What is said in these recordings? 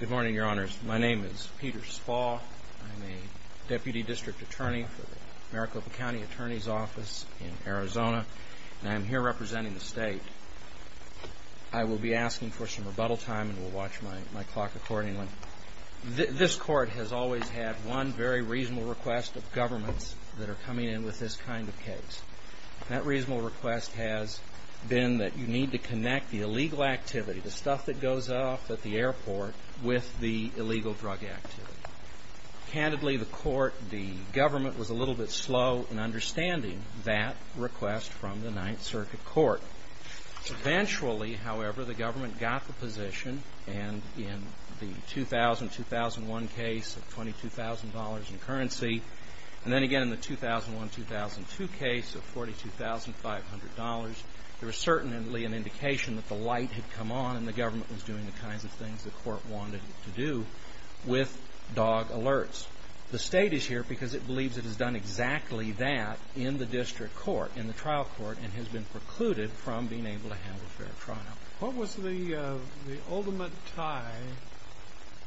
Good morning, Your Honors. My name is Peter Spall. I'm a Deputy District Attorney for the Maricopa County Attorney's Office in Arizona, and I'm here representing the state. I will be asking for some rebuttal time, and we'll watch my clock accordingly. This Court has always had one very reasonable request of governments that are coming in with this kind of case. That reasonable request has been that you need to connect the illegal activity, the stuff that goes off at the airport, with the illegal drug activity. Candidly, the Court, the government, was a little bit slow in understanding that request from the Ninth Circuit Court. Eventually, however, the government got the position, and in the 2000-2001 case of $22,000 in currency, and then again in the 2001-2002 case of $42,500, there was certainly an indication that the light had come on and the government was doing the kinds of things the Court wanted it to do with dog alerts. The State is here because it believes it has done exactly that in the district court, in the trial court, and has been precluded from being able to handle a fair trial. What was the ultimate tie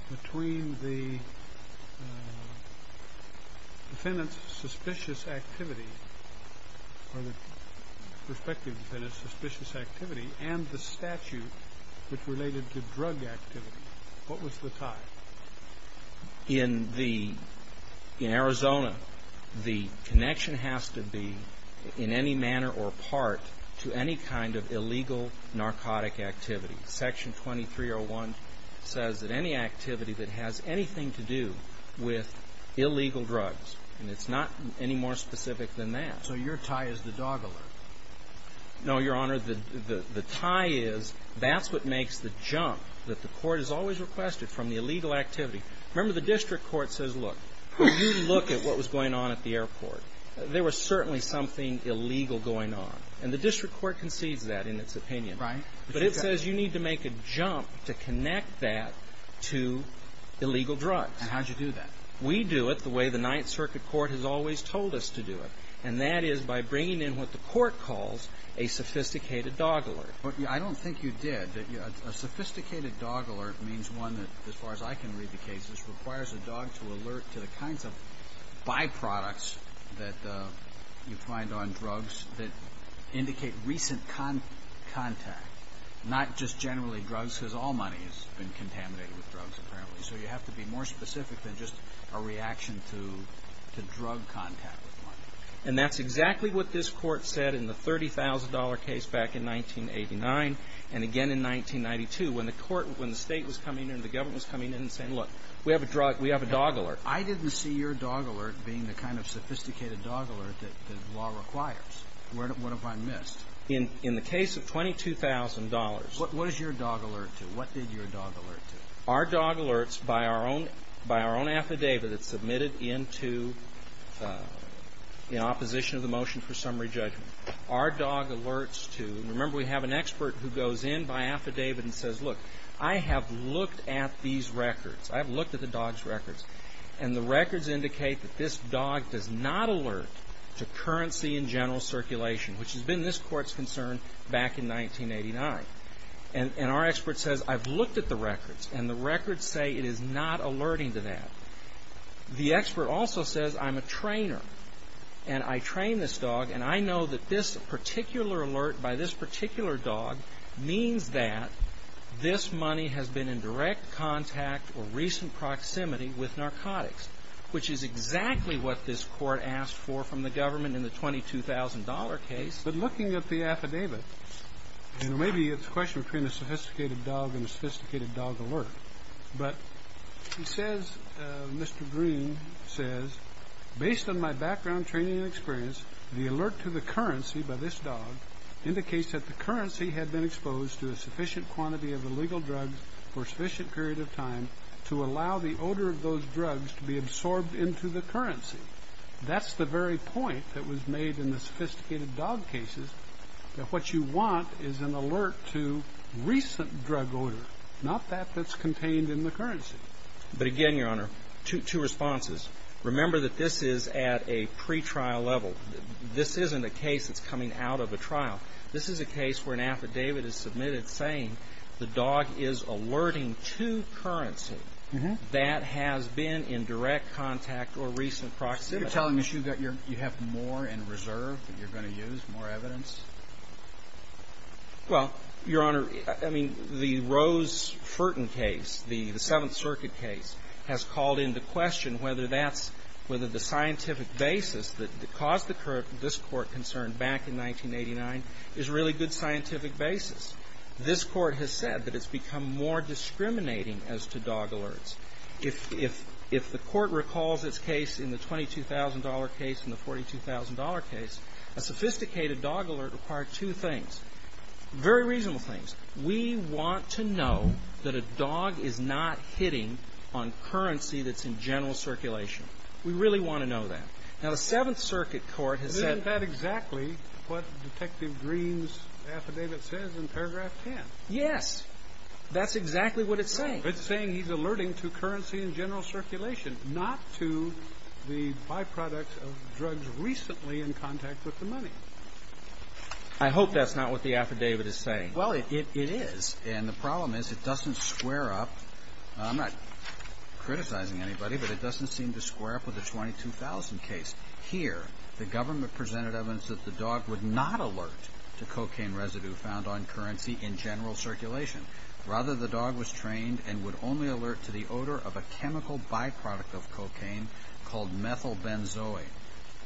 between the defendant's suspicious activity, or the perspective of the defendant's suspicious activity, and the statute which related to drug activity? What was the tie? In the – in Arizona, the connection has to be, in any manner or part, to any kind of illegal narcotic activity. Section 2301 says that any activity that has anything to do with illegal drugs, and it's not any more specific than that. So your tie is the dog alert? No, Your Honor. The tie is, that's what makes the jump that the Court has always requested from the illegal activity. Remember, the district court says, look, you look at what was going on at the airport. There was certainly something illegal going on. And the district court concedes that in its opinion. Right. But it says you need to make a jump to connect that to illegal drugs. And how did you do that? We do it the way the Ninth Circuit Court has always told us to do it, and that is by bringing in what the Court calls a sophisticated dog alert. But I don't think you did. A sophisticated dog alert means one that, as far as I can read the cases, requires a dog to alert to the kinds of byproducts that you find on drugs that indicate recent contact, not just generally drugs, because all money has been contaminated with drugs, apparently. So you have to be more specific than just a reaction to drug contact with money. And that's exactly what this Court said in the $30,000 case back in 1989 and again in 1992 when the Court, when the State was coming in, the government was coming in and saying, look, we have a drug, we have a dog alert. I didn't see your dog alert being the kind of sophisticated dog alert that the law requires. What have I missed? In the case of $22,000. What was your dog alert to? What did your dog alert to? Our dog alerts by our own affidavit that's submitted into the opposition of the motion for summary judgment. Our dog alerts to, and remember we have an expert who goes in by affidavit and says, look, I have looked at these records. I have looked at the dog's records. And the records indicate that this dog does not alert to currency in general circulation, which has been this Court's concern back in 1989. And our expert says, I've looked at the records, and the records say it is not alerting to that. The expert also says, I'm a trainer, and I train this dog, and I know that this particular alert by this particular dog means that this money has been in direct contact or recent proximity with narcotics, which is exactly what this Court asked for from the government in the $22,000 case. But looking at the affidavit, and maybe it's a question between a sophisticated dog and a sophisticated dog alert, but he says, Mr. Green says, based on my background, training, and experience, the alert to the currency by this dog indicates that the currency had been exposed to a sufficient quantity of illegal drugs for a sufficient period of time to allow the odor of those drugs to be absorbed into the currency. That's the very point that was made in the sophisticated dog cases, that what you want is an alert to recent drug odor, not that that's contained in the currency. But again, Your Honor, two responses. Remember that this is at a pretrial level. This isn't a case that's coming out of a trial. This is a case where an affidavit is submitted saying the dog is alerting to currency that has been in direct contact or recent proximity. So you're telling me you have more in reserve that you're going to use, more evidence? Well, Your Honor, I mean, the Rose-Furton case, the Seventh Circuit case, has called into question whether that's the scientific basis that caused this Court concern back in 1989 is a really good scientific basis. This Court has said that it's become more discriminating as to dog alerts. If the Court recalls its case in the $22,000 case and the $42,000 case, a sophisticated dog alert required two things, very reasonable things. We want to know that a dog is not hitting on currency that's in general circulation. We really want to know that. Now, the Seventh Circuit Court has said that. That's not exactly what Detective Green's affidavit says in paragraph 10. Yes, that's exactly what it's saying. It's saying he's alerting to currency in general circulation, not to the byproducts of drugs recently in contact with the money. I hope that's not what the affidavit is saying. Well, it is, and the problem is it doesn't square up. I'm not criticizing anybody, but it doesn't seem to square up with the $22,000 case. Here, the government presented evidence that the dog would not alert to cocaine residue found on currency in general circulation. Rather, the dog was trained and would only alert to the odor of a chemical byproduct of cocaine called methylbenzoate.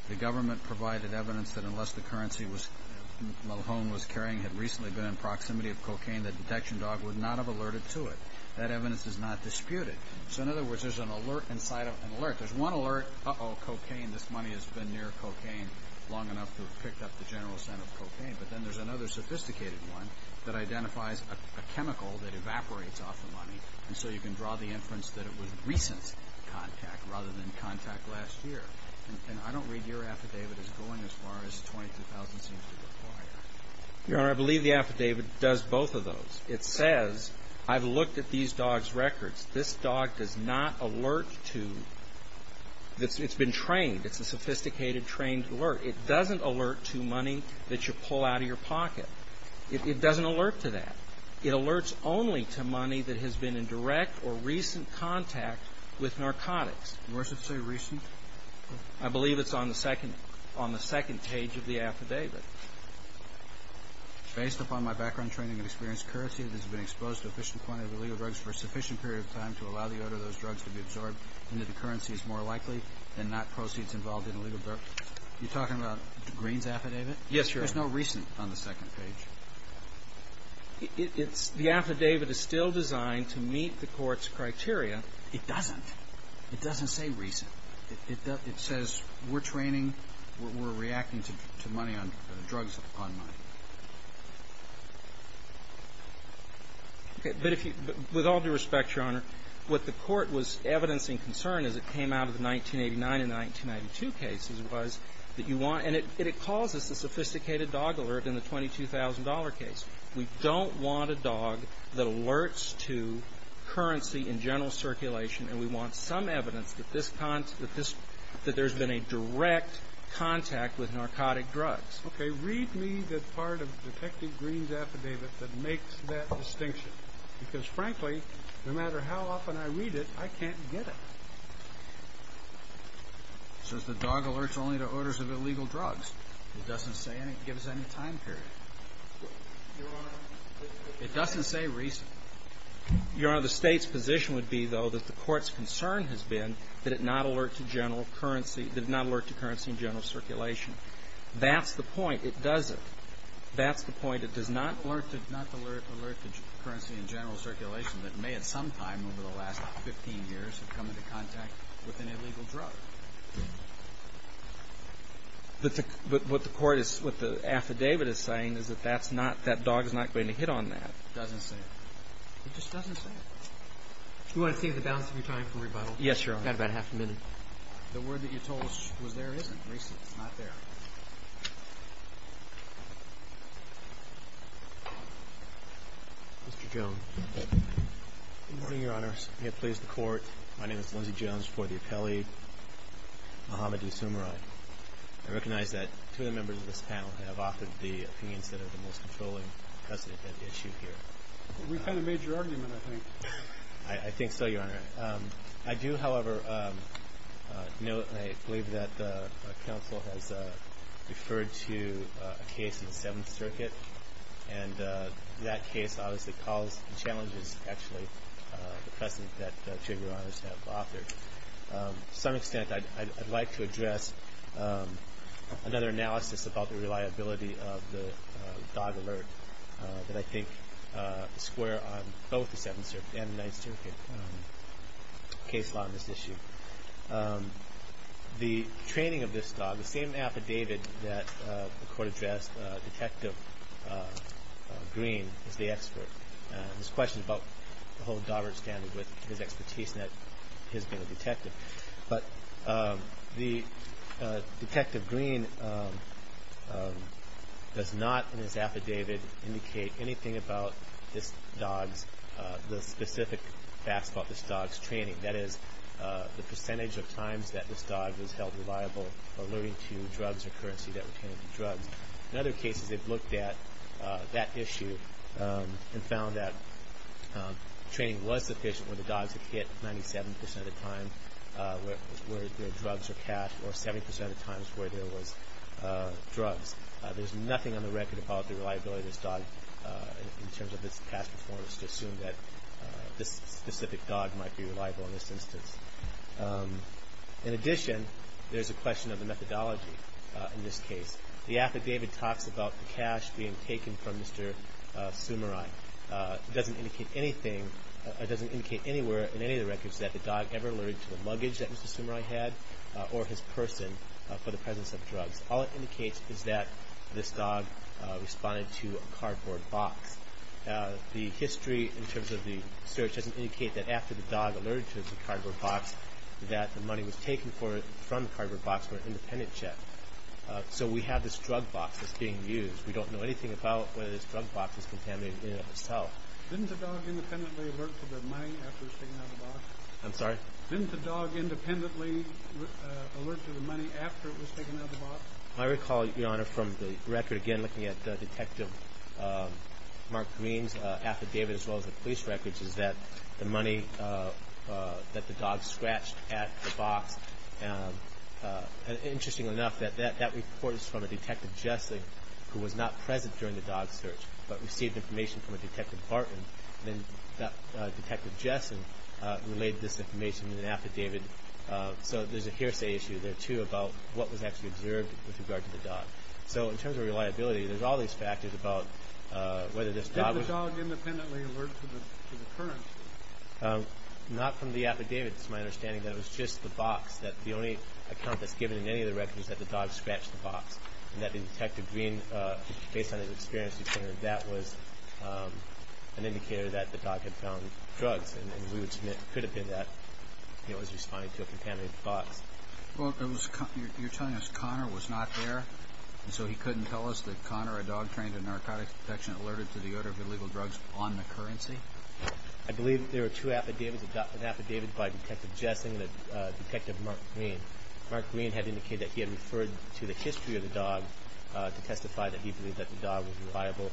The government provided evidence that unless the currency Malhom was carrying had recently been in proximity of cocaine, the detection dog would not have alerted to it. That evidence is not disputed. So, in other words, there's an alert inside of an alert. There's one alert, uh-oh, cocaine. This money has been near cocaine long enough to have picked up the general scent of cocaine. But then there's another sophisticated one that identifies a chemical that evaporates off the money. And so you can draw the inference that it was recent contact rather than contact last year. And I don't read your affidavit as going as far as $22,000 seems to require. Your Honor, I believe the affidavit does both of those. It says, I've looked at these dogs' records. This dog does not alert to, it's been trained. It's a sophisticated, trained alert. It doesn't alert to money that you pull out of your pocket. It doesn't alert to that. It alerts only to money that has been in direct or recent contact with narcotics. And where does it say recent? I believe it's on the second page of the affidavit. Based upon my background, training, and experience, the currency that has been exposed to a sufficient quantity of illegal drugs for a sufficient period of time to allow the odor of those drugs to be absorbed into the currency is more likely than not proceeds involved in illegal drugs. You're talking about Green's affidavit? Yes, Your Honor. There's no recent on the second page. The affidavit is still designed to meet the court's criteria. It doesn't. It doesn't say recent. It says we're training, we're reacting to money on drugs on money. Okay. But if you, with all due respect, Your Honor, what the court was evidencing concern as it came out of the 1989 and 1992 cases was that you want, and it calls us a sophisticated dog alert in the $22,000 case. We don't want a dog that alerts to currency in general circulation, and we want some evidence that there's been a direct contact with narcotic drugs. Okay. Read me the part of Detective Green's affidavit that makes that distinction. Because, frankly, no matter how often I read it, I can't get it. It says the dog alerts only to odors of illegal drugs. It doesn't give us any time period. Your Honor. It doesn't say recent. Your Honor, the State's position would be, though, that the court's concern has been that it not alert to general currency, that it not alert to currency in general circulation. That's the point. It doesn't. That's the point. It does not alert to currency in general circulation that may at some time over the last 15 years have come into contact with an illegal drug. But what the court is, what the affidavit is saying is that that's not, that dog is not going to hit on that. It doesn't say it. It just doesn't say it. Do you want to save the balance of your time for rebuttal? Yes, Your Honor. I've got about half a minute. The word that you told us was there isn't, recent. It's not there. Mr. Jones. Good morning, Your Honor. May it please the Court. My name is Lindsey Jones for the appellee, Muhammad D. Sumerai. I recognize that two of the members of this panel have offered the opinions that I think are the most controlling precedent at issue here. We've had a major argument, I think. I think so, Your Honor. I do, however, note and I believe that the counsel has referred to a case in the Seventh Circuit, and that case obviously calls the challenges, actually, the precedent that two of Your Honors have offered. To some extent, I'd like to address another analysis about the reliability of the dog alert that I think is square on both the Seventh Circuit and the Ninth Circuit case law in this issue. The training of this dog, the same affidavit that the Court addressed, Detective Green is the expert. This question is about the whole dog standard with his expertise and his being a does not in his affidavit indicate anything about this dog's, the specific facts about this dog's training. That is, the percentage of times that this dog was held reliable or alerting to drugs or currency that would turn into drugs. In other cases, they've looked at that issue and found that training was sufficient when the dogs had hit 97% of the time where there were drugs or cash, or 70% of the times where there was drugs. There's nothing on the record about the reliability of this dog in terms of its past performance to assume that this specific dog might be reliable in this instance. In addition, there's a question of the methodology in this case. The affidavit talks about the cash being taken from Mr. Sumerai. It doesn't indicate anything, it doesn't indicate anywhere in any of the records that the dog ever alerted to the luggage that Mr. Sumerai had or his person for the presence of drugs. All it indicates is that this dog responded to a cardboard box. The history in terms of the search doesn't indicate that after the dog alerted to the cardboard box that the money was taken from the cardboard box for an independent check. So we have this drug box that's being used. We don't know anything about whether this drug box was contaminated in and of itself. Didn't the dog independently alert to the money after it was taken out of the box? I'm sorry? Didn't the dog independently alert to the money after it was taken out of the box? I recall, Your Honor, from the record, again, looking at Detective Mark Green's affidavit as well as the police records, is that the money that the dog scratched at the box. Interestingly enough, that report is from a Detective Jessing who was not present during the dog search but received information from a Detective Barton. Then Detective Jessing relayed this information in an affidavit. So there's a hearsay issue there, too, about what was actually observed with regard to the dog. So in terms of reliability, there's all these factors about whether this dog was- Didn't the dog independently alert to the currency? Not from the affidavit. It's my understanding that it was just the box, that the only account that's given in any of the records is that the dog scratched the box. And that Detective Green, based on his experience, that was an indicator that the dog had found drugs. And we would submit it could have been that he was responding to a contaminated box. Well, you're telling us Connor was not there, and so he couldn't tell us that Connor, a dog trained in narcotics protection, alerted to the order of illegal drugs on the currency? I believe there were two affidavits, an affidavit by Detective Jessing and Detective Mark Green. Mark Green had indicated that he had referred to the history of the dog to testify that he believed that the dog was reliable.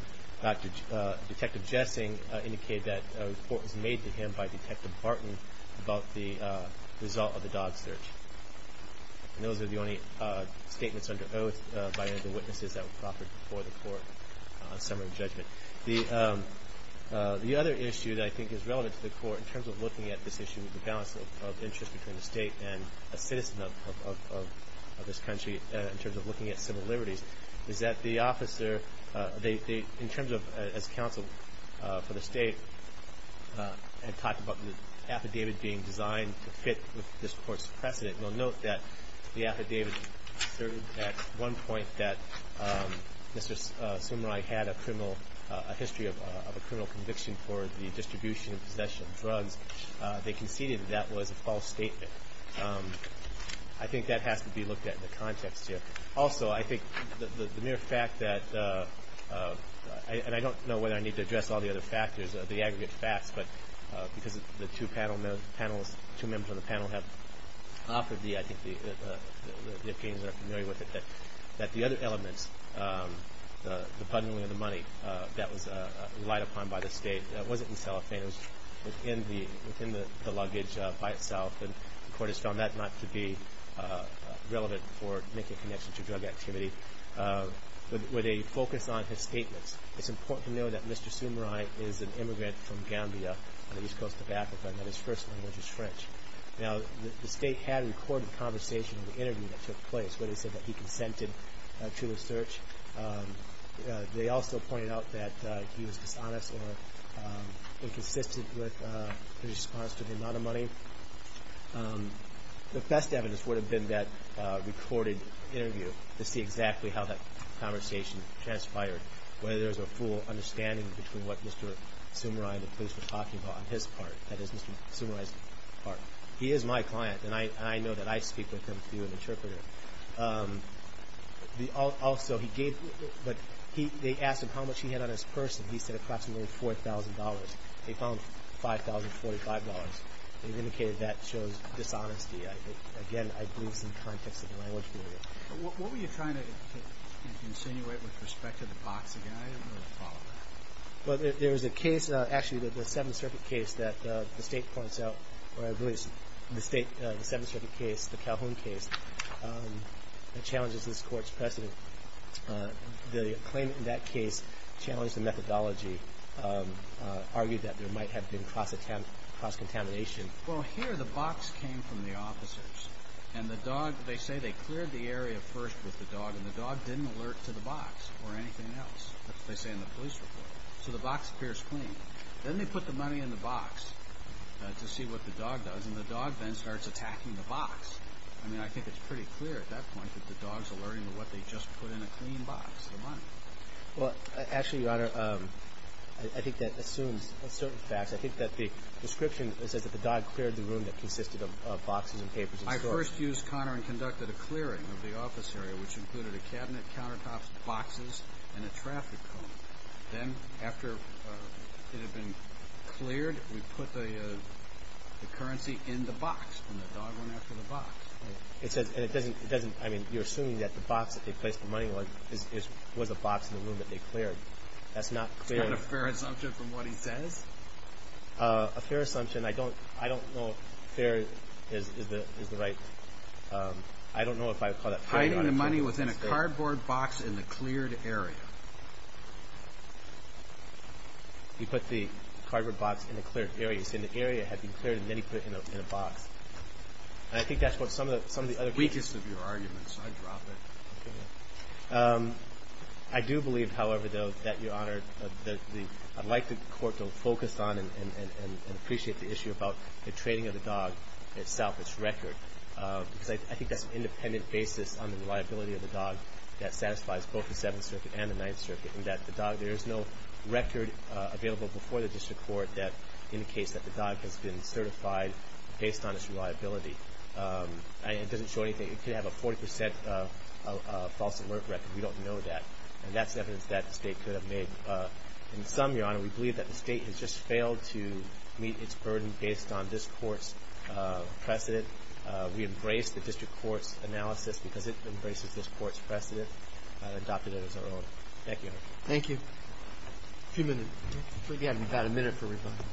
Detective Jessing indicated that a report was made to him by Detective Barton about the result of the dog search. And those are the only statements under oath by any of the witnesses that were proffered before the Court on summary judgment. The other issue that I think is relevant to the Court in terms of looking at this issue and the balance of interest between the State and a citizen of this country in terms of looking at civil liberties is that the officer, in terms of as counsel for the State, had talked about the affidavit being designed to fit with this Court's precedent. We'll note that the affidavit asserted at one point that Mr. Sumerai had a criminal, a history of a criminal conviction for the distribution and possession of drugs. They conceded that that was a false statement. I think that has to be looked at in the context here. Also, I think the mere fact that, and I don't know whether I need to address all the other factors, the aggregate facts, but because the two members of the panel have offered the opinions that are familiar with it, that the other elements, the punditry of the money that was relied upon by the State, wasn't in cellophane, it was within the luggage by itself, and the Court has found that not to be relevant for making a connection to drug activity. With a focus on his statements, it's important to know that Mr. Sumerai is an immigrant from Gambia on the east coast of Africa and that his first language is French. Now, the State had a recorded conversation in the interview that took place where they said that he consented to the search. They also pointed out that he was dishonest or inconsistent with his response to the amount of money. The best evidence would have been that recorded interview to see exactly how that conversation transpired, whether there was a full understanding between what Mr. Sumerai and the police were talking about on his part, that is Mr. Sumerai's part. He is my client, and I know that I speak with him to be an interpreter. Also, they asked him how much he had on his purse, and he said approximately $4,000. They found $5,045, and indicated that shows dishonesty. Again, I believe it's in the context of the language barrier. What were you trying to insinuate with respect to the boxing item or the follow-up? Well, there was a case, actually the Seventh Circuit case that the State points out, or I believe the State, the Seventh Circuit case, the Calhoun case, that challenges this Court's precedent. The claimant in that case challenged the methodology, argued that there might have been cross-contamination. Well, here the box came from the officers, and the dog, they say they cleared the area first with the dog, and the dog didn't alert to the box or anything else, that's what they say in the police report, so the box appears clean. Then they put the money in the box to see what the dog does, and the dog then starts attacking the box. I mean, I think it's pretty clear at that point that the dog's alerting to what they just put in a clean box, the money. Well, actually, Your Honor, I think that assumes certain facts. I think that the description says that the dog cleared the room that consisted of boxes and papers and storage. I first used Connor and conducted a clearing of the office area, which included a cabinet, countertops, boxes, and a traffic cone. Then, after it had been cleared, we put the currency in the box, and the dog went after the box. It says, and it doesn't, I mean, you're assuming that the box that they placed the money in was a box in the room that they cleared. That's not clear. Is that a fair assumption from what he says? A fair assumption, I don't know if fair is the right, I don't know if I would call that fair. He put the money within a cardboard box in the cleared area. He put the cardboard box in the cleared area. He said the area had been cleared, and then he put it in a box. I think that's what some of the other people. It's the weakest of your arguments. I drop it. I do believe, however, though, that, Your Honor, I'd like the court to focus on and appreciate the issue about the training of the dog itself, its record, because I think that's an independent basis on the reliability of the dog that satisfies both the Seventh Circuit and the Ninth Circuit, and that the dog, there is no record available before the district court that indicates that the dog has been certified based on its reliability. It doesn't show anything. It could have a 40 percent false alert record. We don't know that, and that's evidence that the state could have made. In sum, Your Honor, we believe that the state has just failed to meet its burden based on this court's precedent. We embrace the district court's analysis because it embraces this court's precedent and adopted it as our own. Thank you, Your Honor. Thank you. A few minutes. We have about a minute for rebuttal.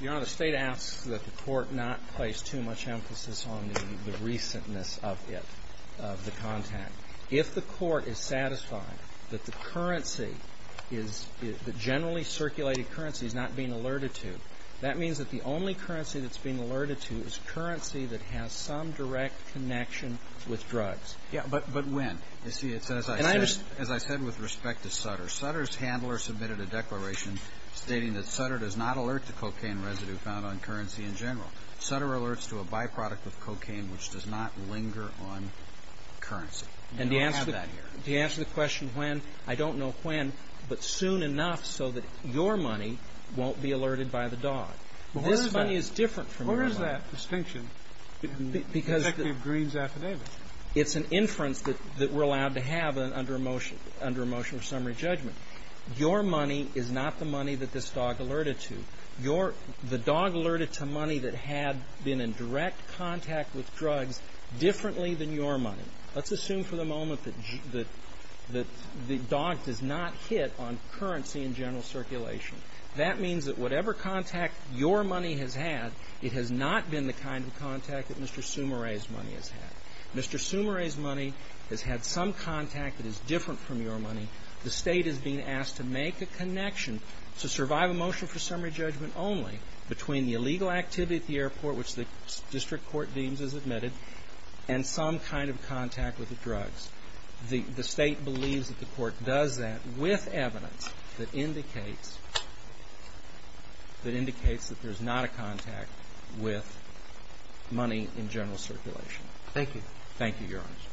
Your Honor, the state asks that the court not place too much emphasis on the recentness of it, of the content. If the court is satisfied that the currency is the generally circulated currency is not being alerted to, that means that the only currency that's being alerted to is currency that has some direct connection with drugs. Yeah, but when? You see, it's as I said with respect to Sutter. Sutter's handler submitted a declaration stating that Sutter does not alert to cocaine residue found on currency in general. Sutter alerts to a byproduct of cocaine which does not linger on currency. You don't have that here. And to answer the question when, I don't know when, but soon enough so that your money won't be alerted by the dog. But where is that? This money is different from your money. Where is that distinction? Because the — Executive Green's affidavit. It's an inference that we're allowed to have under a motion of summary judgment. Your money is not the money that this dog alerted to. The dog alerted to money that had been in direct contact with drugs differently than your money. Let's assume for the moment that the dog does not hit on currency in general circulation. That means that whatever contact your money has had, it has not been the kind of contact that Mr. Sumire's money has had. Mr. Sumire's money has had some contact that is different from your money. The State is being asked to make a connection to survive a motion for summary judgment only between the illegal activity at the airport, which the district court deems as admitted, and some kind of contact with the drugs. The State believes that the court does that with evidence that indicates that there's not a contact with money in general circulation. Thank you. Thank you, Your Honor.